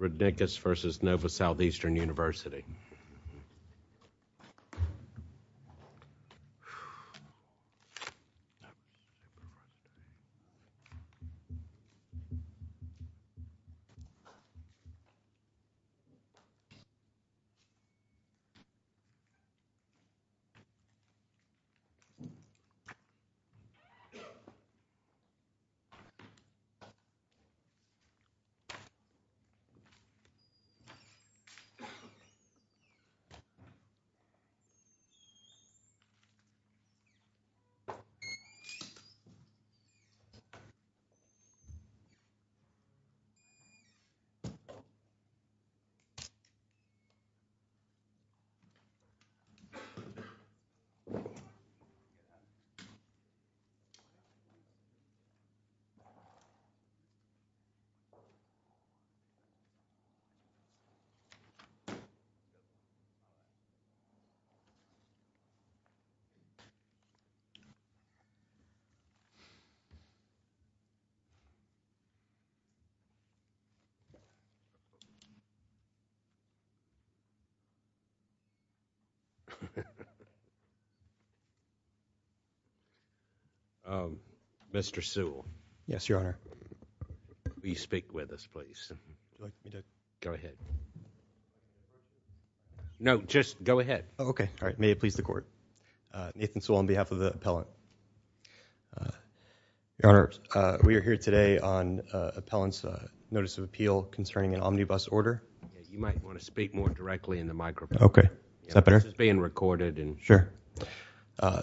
Rudnikas v. Nova Southeastern University. Mr. Sewell. Yes, Your Honor. Will you speak with us, please? Go ahead. No, just go ahead. Okay. All right. May it please the Court. Nathan Sewell on behalf of the appellant. Your Honor, we are here today on appellant's notice of appeal concerning an omnibus order. You might want to speak more directly in the microphone. Okay. Is that better? This is being recorded. Sure.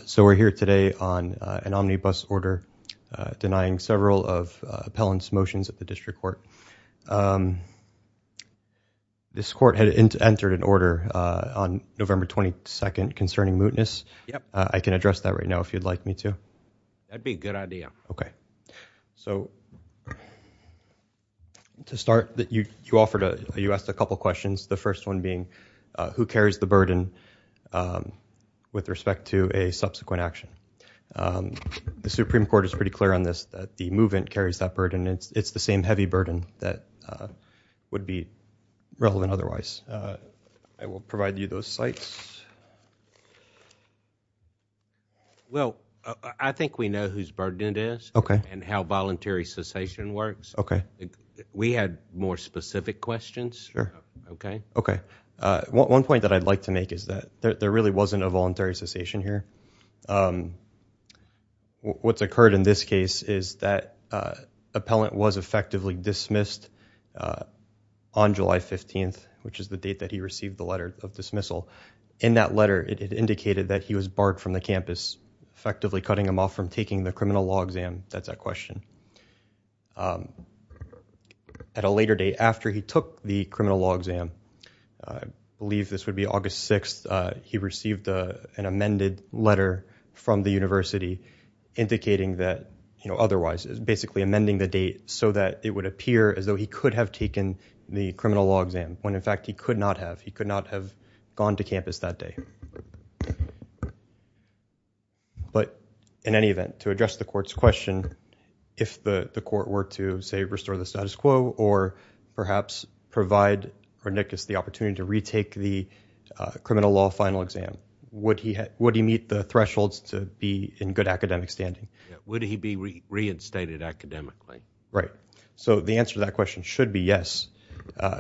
So we're here today on an omnibus order denying several of appellant's motions at the district court. This court had entered an order on November 22nd concerning mootness. Yep. I can address that right now if you'd like me to. That'd be a good idea. Okay. So to start, you asked a couple questions, the first one being who carries the burden with respect to a subsequent action. The Supreme Court is pretty clear on this, that the movement carries that burden. It's the same heavy burden that would be relevant otherwise. I will provide you those sites. Well, I think we know whose burden it is and how voluntary cessation works. Okay. We had more specific questions. Sure. Okay? Okay. One point that I'd like to make is that there really wasn't a voluntary cessation here. What's occurred in this case is that appellant was effectively dismissed on July 15th, which is the date that he received the letter of dismissal. In that letter, it indicated that he was barred from the campus, effectively cutting him off from taking the criminal law exam. That's that question. At a later date, after he took the criminal law exam, I believe this would be August 6th, he received an amended letter from the university indicating that otherwise, basically amending the date so that it would appear as though he could have taken the criminal law exam, when, in fact, he could not have. He could not have gone to campus that day. But in any event, to address the court's question, if the court were to, say, restore the status quo or perhaps provide Pernickus the opportunity to retake the criminal law final exam, would he meet the thresholds to be in good academic standing? Would he be reinstated academically? Right. So the answer to that question should be yes.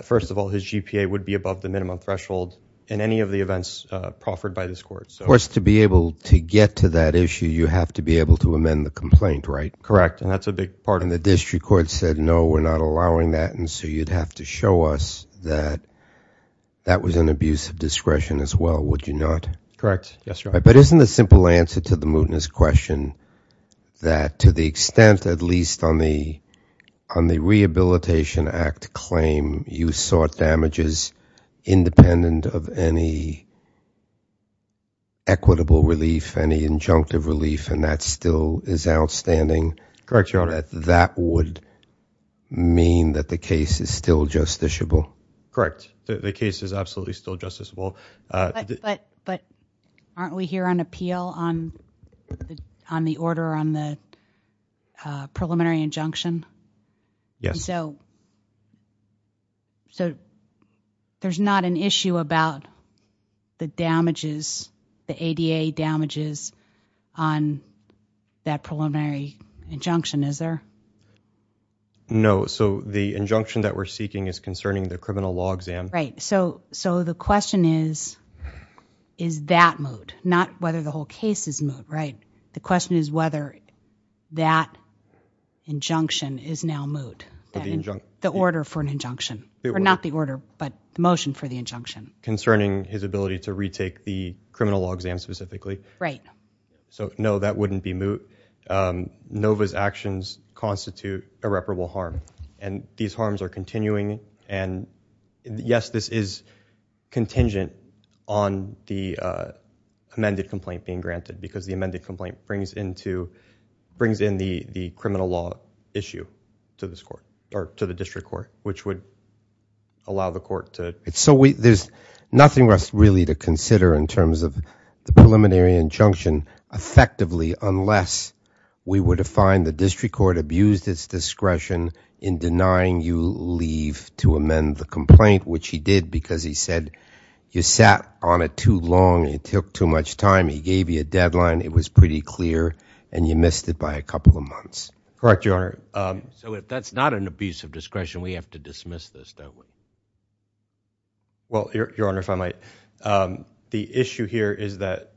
First of all, his GPA would be above the minimum threshold in any of the events proffered by this court. Of course, to be able to get to that issue, you have to be able to amend the complaint, right? Correct. And that's a big part of it. And the district court said, no, we're not allowing that, and so you'd have to show us that that was an abuse of discretion as well, would you not? Correct. Yes, Your Honor. Just a simple answer to the mootness question, that to the extent, at least on the Rehabilitation Act claim, you sought damages independent of any equitable relief, any injunctive relief, and that still is outstanding. Correct, Your Honor. That would mean that the case is still justiciable. Correct. The case is absolutely still justiciable. But aren't we here on appeal on the order on the preliminary injunction? Yes. So there's not an issue about the damages, the ADA damages on that preliminary injunction, is there? No. So the injunction that we're seeking is concerning the criminal law exam. Right. So the question is, is that moot? Not whether the whole case is moot, right? The question is whether that injunction is now moot, the order for an injunction. Or not the order, but the motion for the injunction. Concerning his ability to retake the criminal law exam specifically. Right. So, no, that wouldn't be moot. Nova's actions constitute irreparable harm. And these harms are continuing. And, yes, this is contingent on the amended complaint being granted, because the amended complaint brings in the criminal law issue to this court, or to the district court, which would allow the court to. So there's nothing for us really to consider in terms of the preliminary injunction effectively, unless we were to find the district court abused its discretion in denying you leave to amend the complaint, which he did because he said you sat on it too long, it took too much time, he gave you a deadline, it was pretty clear, and you missed it by a couple of months. Correct, Your Honor. So if that's not an abuse of discretion, we have to dismiss this, don't we? Well, Your Honor, if I might. The issue here is that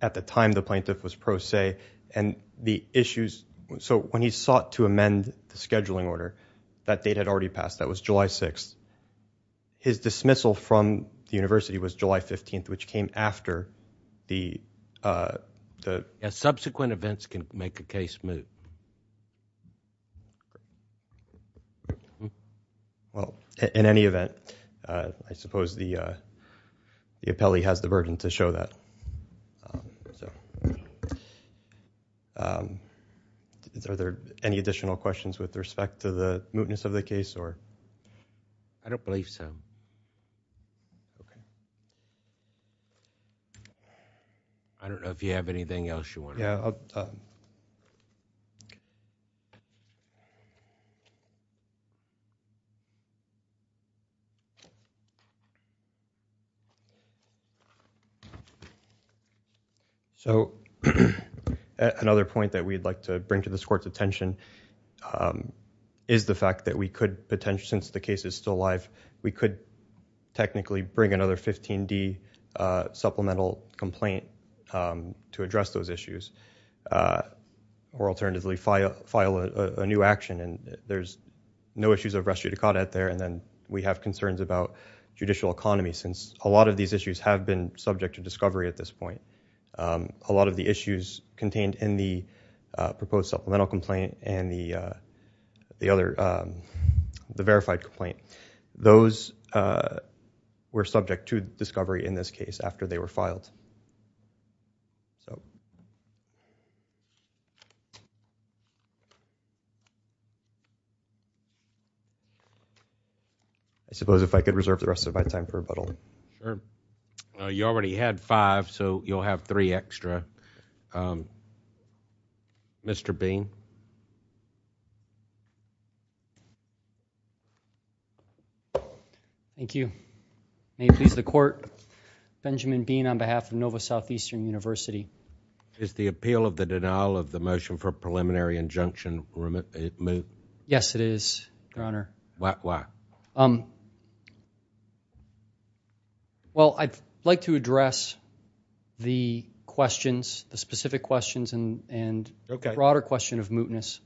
at the time the plaintiff was pro se, and the issues, so when he sought to amend the scheduling order, that date had already passed, that was July 6th. His dismissal from the university was July 15th, which came after the... Subsequent events can make a case moot. Well, in any event, I suppose the appellee has the burden to show that. Are there any additional questions with respect to the mootness of the case? I don't believe so. Okay. I don't know if you have anything else you want to add. Yeah. So another point that we'd like to bring to this Court's attention is the fact that we could potentially, since the case is still alive, we could technically bring another 15D supplemental complaint to address those issues, or alternatively file a new action, and there's no issues of res judicata there, and then we have concerns about judicial economy, since a lot of these issues have been subject to discovery at this point. A lot of the issues contained in the proposed supplemental complaint and the verified complaint, those were subject to discovery in this case after they were filed. I suppose if I could reserve the rest of my time for rebuttal. Sure. You already had five, so you'll have three extra. Mr. Bean. Thank you. May it please the Court, Benjamin Bean on behalf of Nova Southeastern University. Is the appeal of the denial of the motion for preliminary injunction moot? Yes, it is, Your Honor. Why? Well, I'd like to address the questions, the specific questions, and the broader question of mootness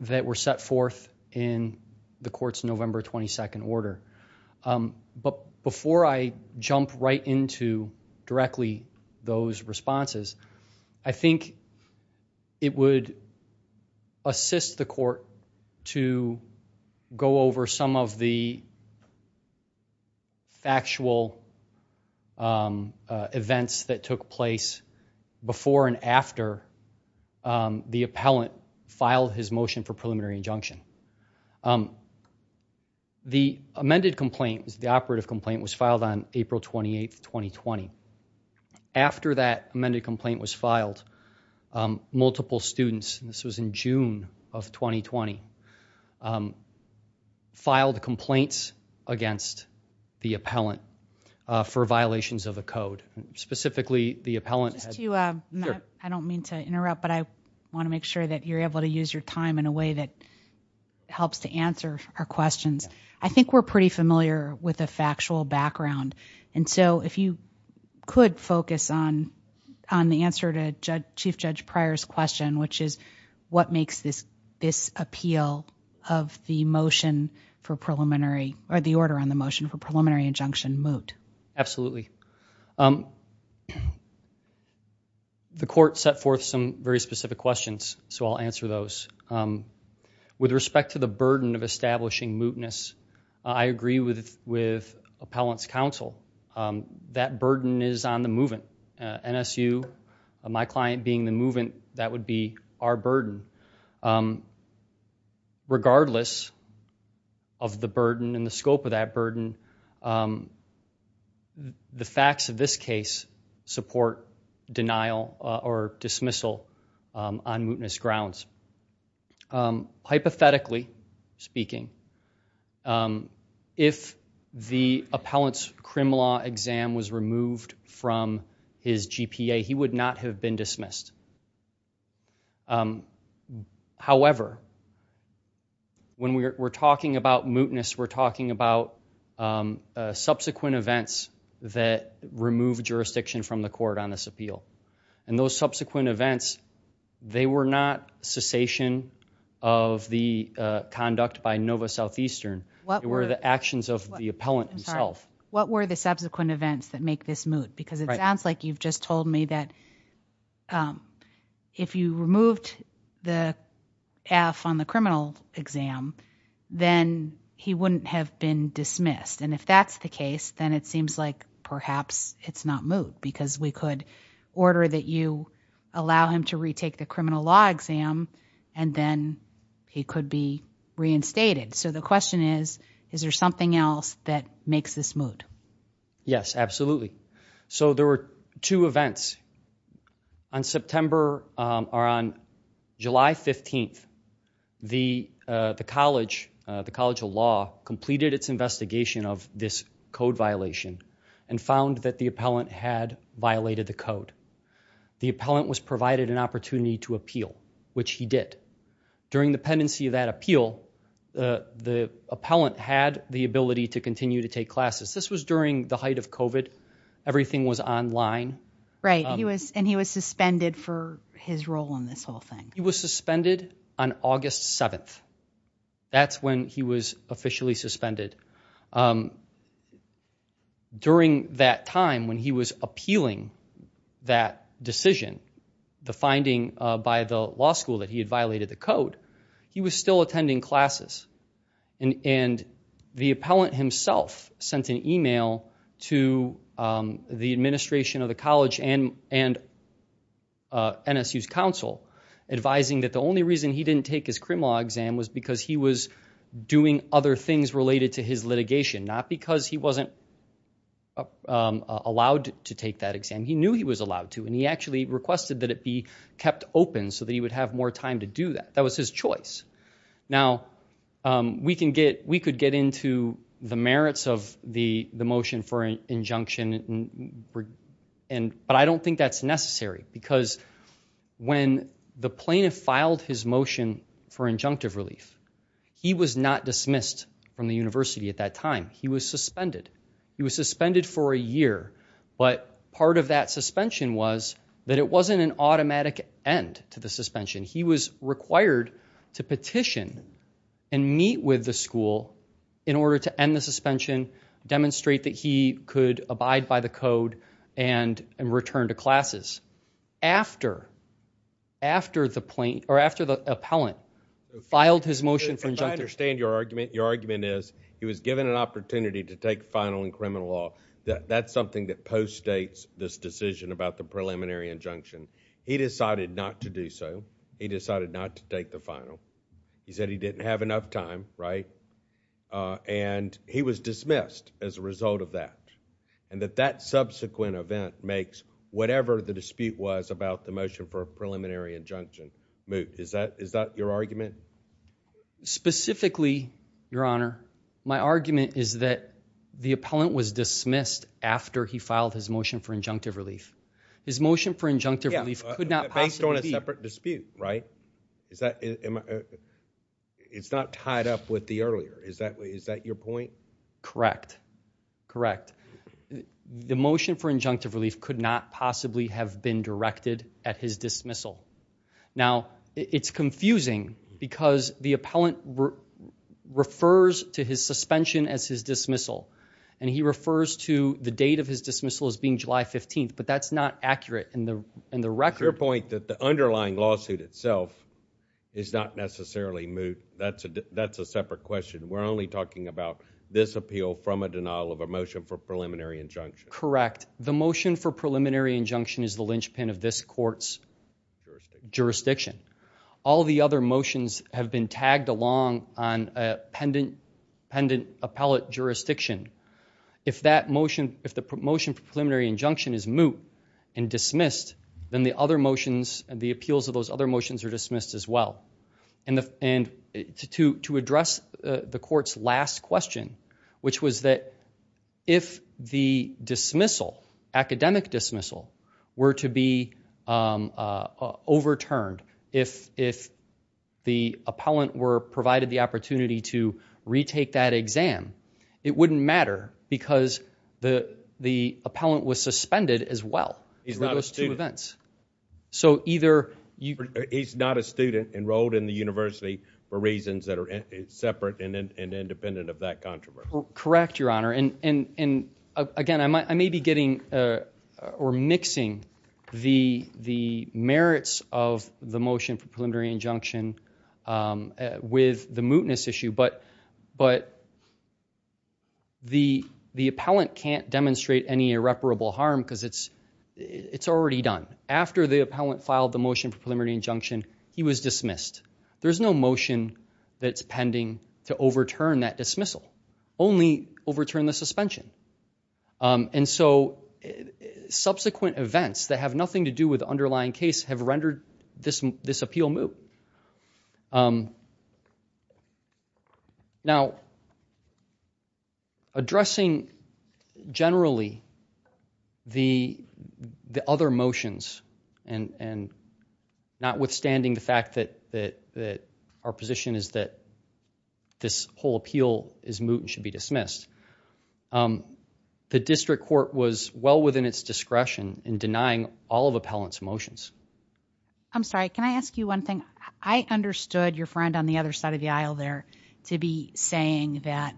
that were set forth in the Court's November 22nd order. But before I jump right into directly those responses, I think it would assist the Court to go over some of the factual events that took place before and after the appellant filed his motion for preliminary injunction. The amended complaint, the operative complaint, was filed on April 28th, 2020. After that amended complaint was filed, multiple students, this was in June of 2020, filed complaints against the appellant for violations of the code. Specifically, the appellant had... I don't mean to interrupt, but I want to make sure that you're able to use your time in a way that helps to answer our questions. I think we're pretty familiar with the factual background, and so if you could focus on the answer to Chief Judge Pryor's question, which is what makes this appeal of the motion for preliminary, or the order on the motion for preliminary injunction moot. Absolutely. Absolutely. The Court set forth some very specific questions, so I'll answer those. With respect to the burden of establishing mootness, I agree with Appellant's Counsel. That burden is on the movant. NSU, my client being the movant, that would be our burden. Regardless of the burden and the scope of that burden, the facts of this case support denial or dismissal on mootness grounds. Hypothetically speaking, if the appellant's crim law exam was removed from his GPA, he would not have been dismissed. However, when we're talking about mootness, we're talking about subsequent events that remove jurisdiction from the Court on this appeal. And those subsequent events, they were not cessation of the conduct by Nova Southeastern. They were the actions of the appellant himself. What were the subsequent events that make this moot? Because it sounds like you've just told me that if you removed the F on the criminal exam, then he wouldn't have been dismissed. And if that's the case, then it seems like perhaps it's not moot, because we could order that you allow him to retake the criminal law exam, and then he could be reinstated. So the question is, is there something else that makes this moot? Yes, absolutely. So there were two events. On July 15th, the College of Law completed its investigation of this code violation and found that the appellant had violated the code. The appellant was provided an opportunity to appeal, which he did. During the pendency of that appeal, the appellant had the ability to continue to take classes. This was during the height of COVID. Everything was online. Right, and he was suspended for his role in this whole thing. He was suspended on August 7th. That's when he was officially suspended. During that time when he was appealing that decision, the finding by the law school that he had violated the code, he was still attending classes. And the appellant himself sent an email to the administration of the college and NSU's council, advising that the only reason he didn't take his criminal law exam was because he was doing other things related to his litigation, not because he wasn't allowed to take that exam. He knew he was allowed to, and he actually requested that it be kept open so that he would have more time to do that. That was his choice. Now, we could get into the merits of the motion for injunction, but I don't think that's necessary because when the plaintiff filed his motion for injunctive relief, he was not dismissed from the university at that time. He was suspended. He was suspended for a year, but part of that suspension was that it wasn't an automatic end to the suspension. He was required to petition and meet with the school in order to end the suspension, demonstrate that he could abide by the code, and return to classes. After the plaintiff, or after the appellant, filed his motion for injunction. I understand your argument. Your argument is he was given an opportunity to take final in criminal law. That's something that postdates this decision about the preliminary injunction. He decided not to do so. He decided not to take the final. He said he didn't have enough time, and he was dismissed as a result of that. That subsequent event makes whatever the dispute was about the motion for a preliminary injunction move. Is that your argument? Specifically, Your Honor, my argument is that the appellant was dismissed after he filed his motion for injunctive relief. His motion for injunctive relief could not possibly be. Based on a separate dispute, right? It's not tied up with the earlier. Is that your point? Correct. Correct. The motion for injunctive relief could not possibly have been directed at his dismissal. Now, it's confusing because the appellant refers to his suspension as his dismissal, and he refers to the date of his dismissal as being July 15th, but that's not accurate in the record. Is your point that the underlying lawsuit itself is not necessarily moved? That's a separate question. We're only talking about this appeal from a denial of a motion for preliminary injunction. Correct. The motion for preliminary injunction is the linchpin of this court's jurisdiction. All the other motions have been tagged along on a pendent appellate jurisdiction. If the motion for preliminary injunction is moot and dismissed, then the appeals of those other motions are dismissed as well. To address the court's last question, which was that if the dismissal, academic dismissal, were to be overturned, if the appellant were provided the opportunity to retake that exam, it wouldn't matter because the appellant was suspended as well for those two events. He's not a student enrolled in the university for reasons that are separate and independent of that controversy. Correct, Your Honor. Again, I may be mixing the merits of the motion for preliminary injunction with the mootness issue, but the appellant can't demonstrate any irreparable harm because it's already done. After the appellant filed the motion for preliminary injunction, he was dismissed. There's no motion that's pending to overturn that dismissal, only overturn the suspension. Subsequent events that have nothing to do with the underlying case have rendered this appeal moot. Now, addressing generally the other motions, and notwithstanding the fact that our position is that this whole appeal is moot and should be dismissed, the district court was well within its discretion in denying all of appellant's motions. I'm sorry, can I ask you one thing? I understood your friend on the other side of the aisle there to be saying that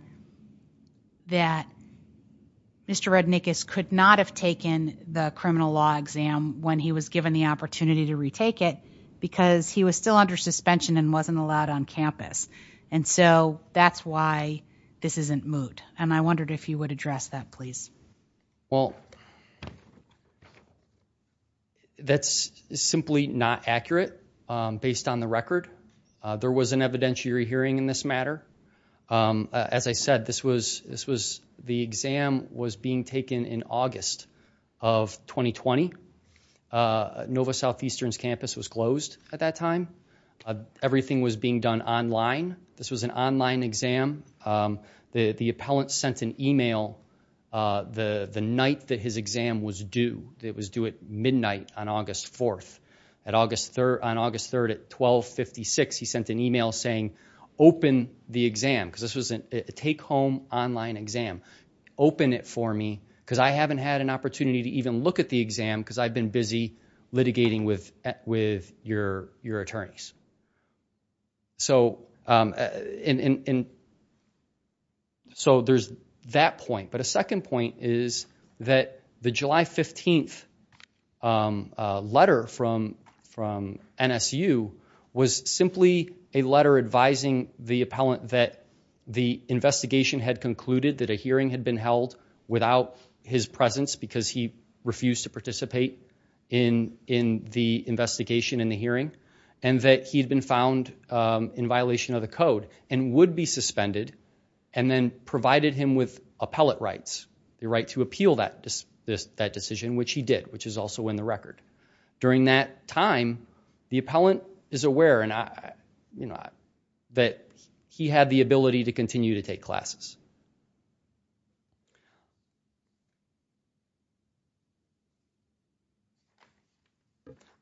Mr. Rednikus could not have taken the criminal law exam when he was given the opportunity to retake it because he was still under suspension and wasn't allowed on campus. And so, that's why this isn't moot. Well, that's simply not accurate based on the record. There was an evidentiary hearing in this matter. As I said, the exam was being taken in August of 2020. Nova Southeastern's campus was closed at that time. Everything was being done online. This was an online exam. The appellant sent an email the night that his exam was due. It was due at midnight on August 4th. On August 3rd at 12.56, he sent an email saying, open the exam, because this was a take-home online exam. Open it for me, because I haven't had an opportunity to even look at the exam, because I've been busy litigating with your attorneys. So, there's that point. But a second point is that the July 15th letter from NSU was simply a letter advising the appellant that the investigation had concluded that a hearing had been held without his presence because he refused to participate in the investigation and the hearing, and that he had been found in violation of the code and would be suspended, and then provided him with appellate rights, the right to appeal that decision, which he did, which is also in the record. During that time, the appellant is aware that he had the ability to continue to take classes.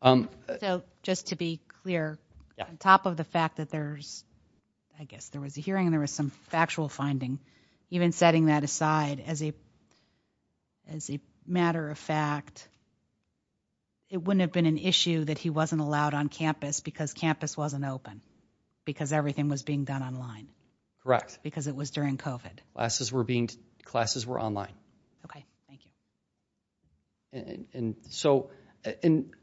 So, just to be clear, on top of the fact that there's, I guess there was a hearing, there was some factual finding, even setting that aside as a matter of fact, it wouldn't have been an issue that he wasn't allowed on campus because campus wasn't open, because everything was being done online. Correct. Because it was during COVID. Classes were online. Okay, thank you. And so,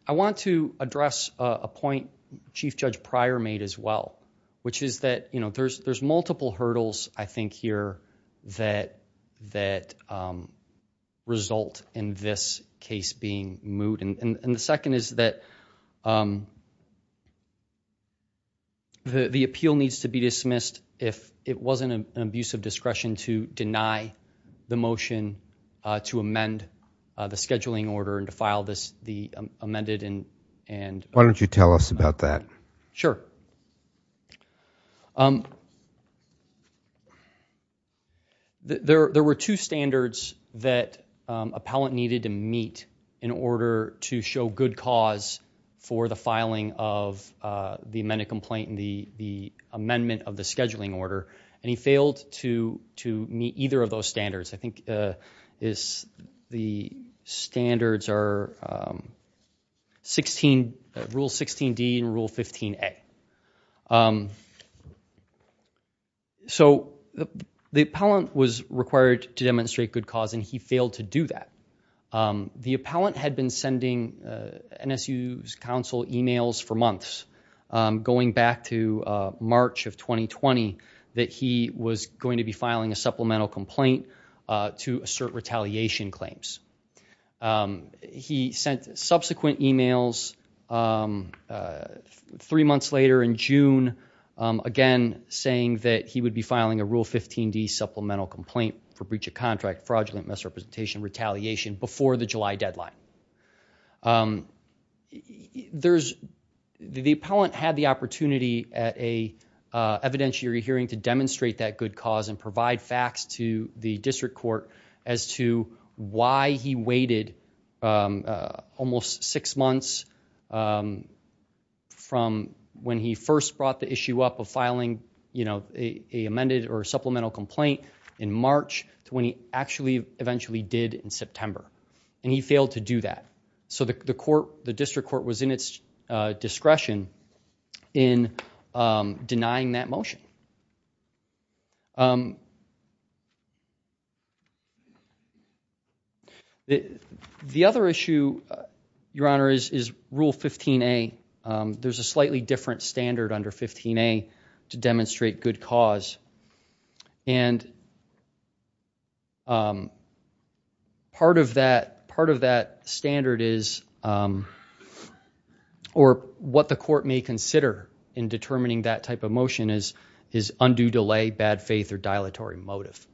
I want to address a point Chief Judge Pryor made as well, which is that there's multiple hurdles, I think, here that result in this case being moot. And the second is that the appeal needs to be dismissed if it wasn't an abuse of discretion to deny the motion to amend the scheduling order and to file the amended. Why don't you tell us about that? Sure. There were two standards that appellant needed to meet in order to show good cause for the filing of the amended complaint and the amendment of the scheduling order, and he failed to meet either of those standards. I think the standards are Rule 16D and Rule 15A. So, the appellant was required to demonstrate good cause, and he failed to do that. The appellant had been sending NSU's counsel emails for months, going back to March of 2020, that he was going to be filing a supplemental complaint to assert retaliation claims. He sent subsequent emails three months later in June, again, saying that he would be filing a Rule 15D supplemental complaint for breach of contract, fraudulent misrepresentation, retaliation before the July deadline. The appellant had the opportunity at an evidentiary hearing to demonstrate that good cause and provide facts to the district court as to why he waited almost six months from when he first brought the issue up of filing a amended or supplemental complaint in March to when he actually eventually did in September. And he failed to do that. So, the district court was in its discretion in denying that motion. The other issue, Your Honor, is Rule 15A. There's a slightly different standard under 15A to demonstrate good cause, and part of that standard is, or what the court may consider in determining that type of motion, is undue delay, bad faith, or dilatory motive.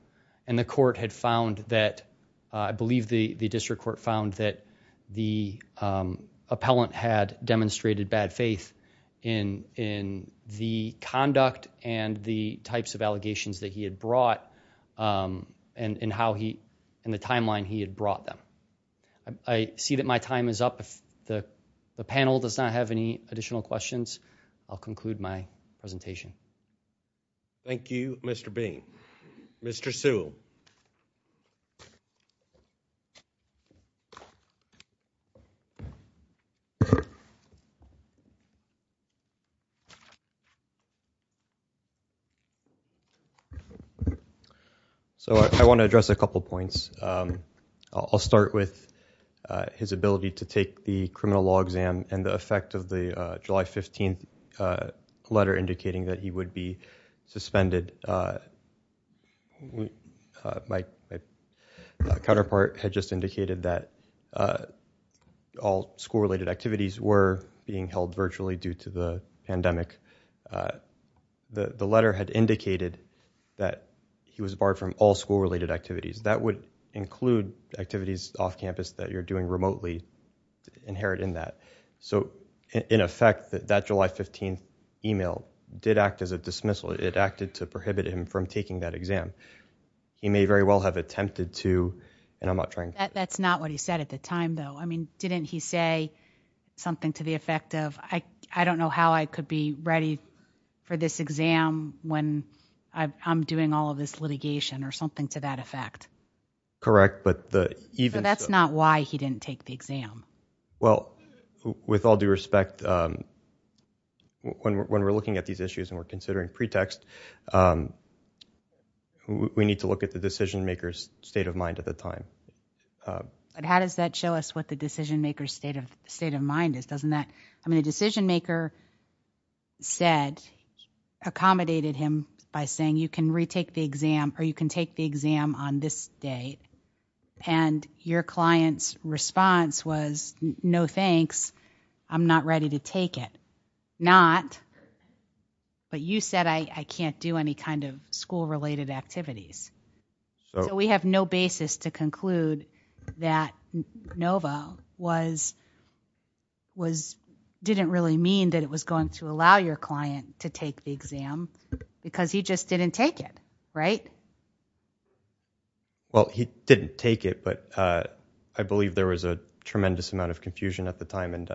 And the court had found that, I believe the district court found that the appellant had demonstrated bad faith in the conduct and the types of allegations that he had brought and the timeline he had brought them. I see that my time is up. If the panel does not have any additional questions, I'll conclude my presentation. Thank you, Mr. Bain. Mr. Sewell. So, I want to address a couple points. I'll start with his ability to take the criminal law exam and the effect of the July 15th letter indicating that he would be suspended. My counterpart had just indicated that all school-related activities were being held virtually due to the pandemic. The letter had indicated that he was barred from all school-related activities. That would include activities off campus that you're doing remotely inherent in that. So, in effect, that July 15th email did act as a dismissal. It acted to prohibit him from taking that exam. He may very well have attempted to, and I'm not trying to- That's not what he said at the time, though. I mean, didn't he say something to the effect of, I don't know how I could be ready for this exam when I'm doing all of this litigation or something to that effect? Correct, but the- So, that's not why he didn't take the exam. Well, with all due respect, when we're looking at these issues and we're considering pretext, we need to look at the decision-maker's state of mind at the time. But how does that show us what the decision-maker's state of mind is? Doesn't that- I mean, the decision-maker said, accommodated him by saying, you can retake the exam or you can take the exam on this day. And your client's response was, no thanks, I'm not ready to take it. Not, but you said, I can't do any kind of school-related activities. So, we have no basis to conclude that NOVA didn't really mean that it was going to allow your client to take the exam because he just didn't take it, right? Well, he didn't take it, but I believe there was a tremendous amount of confusion at the time.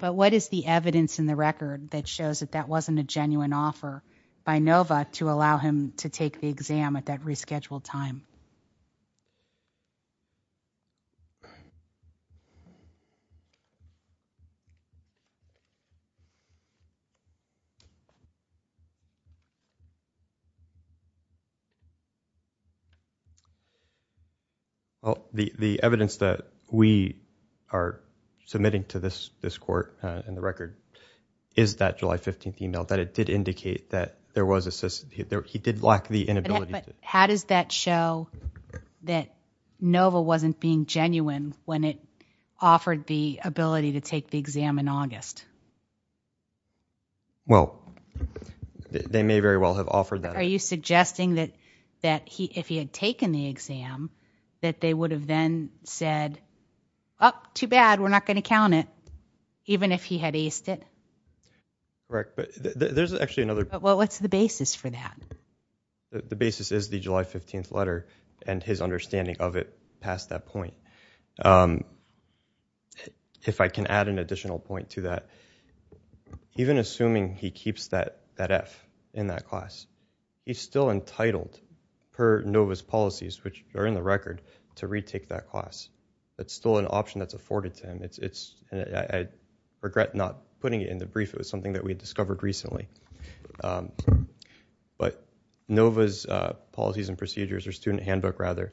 But what is the evidence in the record that shows that that wasn't a genuine offer by NOVA to allow him to take the exam at that rescheduled time? Well, the evidence that we are submitting to this court in the record is that July 15th email, that it did indicate that there was a- he did lack the inability to- But how does that show that NOVA wasn't being genuine when it offered the ability to take the exam in August? Well, they may very well have offered that. Are you suggesting that if he had taken the exam, that they would have then said, oh, too bad, we're not going to count it, even if he had aced it? Correct, but there's actually another- Well, what's the basis for that? The basis is the July 15th letter and his understanding of it past that point. If I can add an additional point to that, even assuming he keeps that F in that class, he's still entitled, per NOVA's policies, which are in the record, to retake that class. It's still an option that's afforded to him. It's- I regret not putting it in the brief. It was something that we discovered recently. But NOVA's policies and procedures, or student handbook, rather,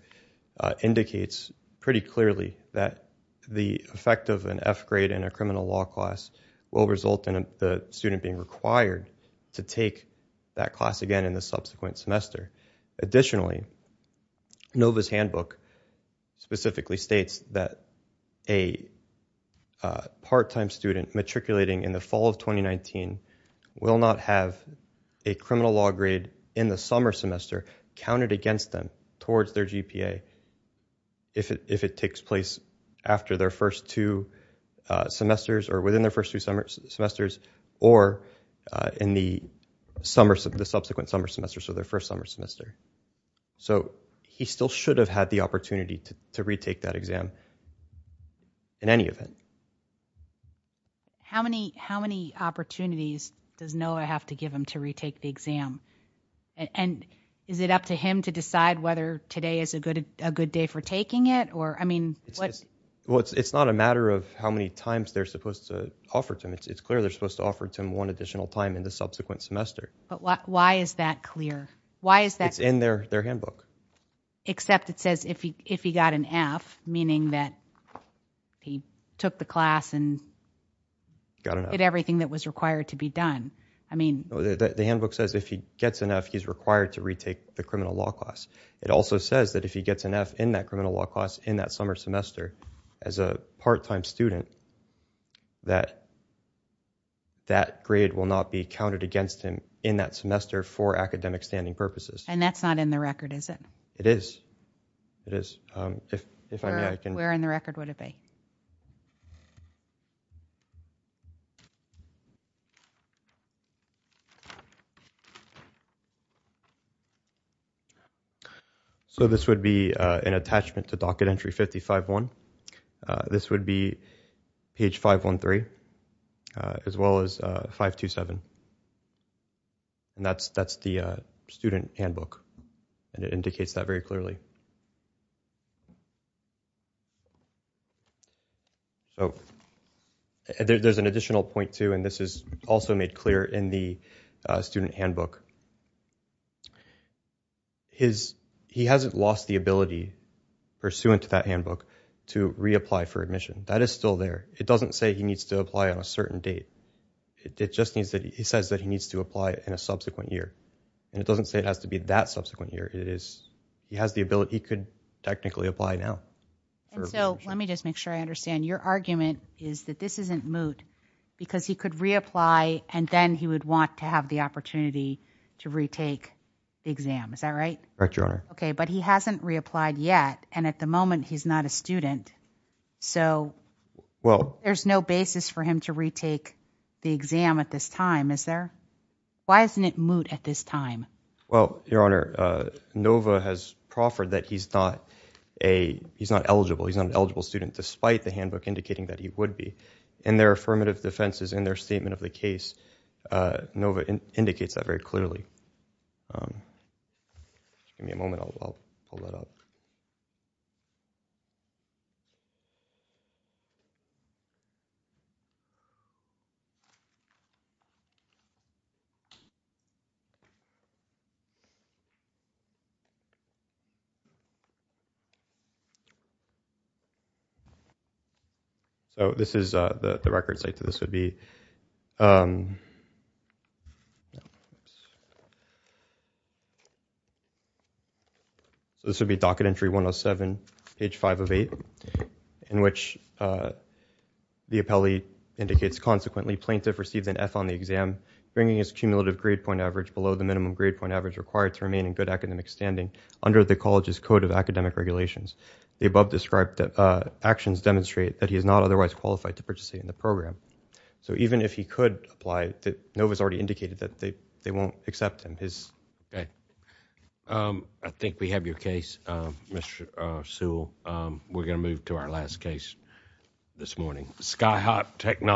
indicates pretty clearly that the effect of an F grade in a criminal law class will result in the student being required to take that class again in the subsequent semester. Additionally, NOVA's handbook specifically states that a part-time student matriculating in the fall of 2019 will not have a criminal law grade in the summer semester counted against them towards their GPA if it takes place after their first two semesters or within their first two semesters or in the subsequent summer semester, so their first summer semester. So he still should have had the opportunity to retake that exam in any event. How many opportunities does NOVA have to give him to retake the exam? And is it up to him to decide whether today is a good day for taking it? It's not a matter of how many times they're supposed to offer to him. It's clear they're supposed to offer to him one additional time in the subsequent semester. But why is that clear? It's in their handbook. Except it says if he got an F, meaning that he took the class and did everything that was required to be done. The handbook says if he gets an F, he's required to retake the criminal law class. It also says that if he gets an F in that criminal law class in that summer semester as a part-time student, that that grade will not be counted against him in that semester for academic standing purposes. And that's not in the record, is it? It is. Where in the record would it be? So this would be an attachment to docket entry 5051. This would be page 513 as well as 527. And that's the student handbook. And it indicates that very clearly. There's an additional point, too, and this is also made clear in the student handbook. He hasn't lost the ability pursuant to that handbook to reapply for admission. That is still there. It doesn't say he needs to apply on a certain date. It just says that he needs to apply in a subsequent year. And it doesn't say it has to be that subsequent year. He has the ability. He could technically apply now. And so let me just make sure I understand. Your argument is that this isn't moot because he could reapply and then he would want to have the opportunity to retake the exam. Is that right? Correct, Your Honor. Okay, but he hasn't reapplied yet, and at the moment he's not a student. So there's no basis for him to retake the exam at this time, is there? Why isn't it moot at this time? Well, Your Honor, NOVA has proffered that he's not eligible. He's not an eligible student despite the handbook indicating that he would be. In their affirmative defenses in their statement of the case, NOVA indicates that very clearly. Give me a moment. I'll pull that up. Okay. So this is the record site. So this would be docket entry 107, page 5 of 8, in which the appellee indicates, Okay. I think we have your case, Mr. Sewell. We're going to move to our last case this morning. This is Sky Harp, Take 9.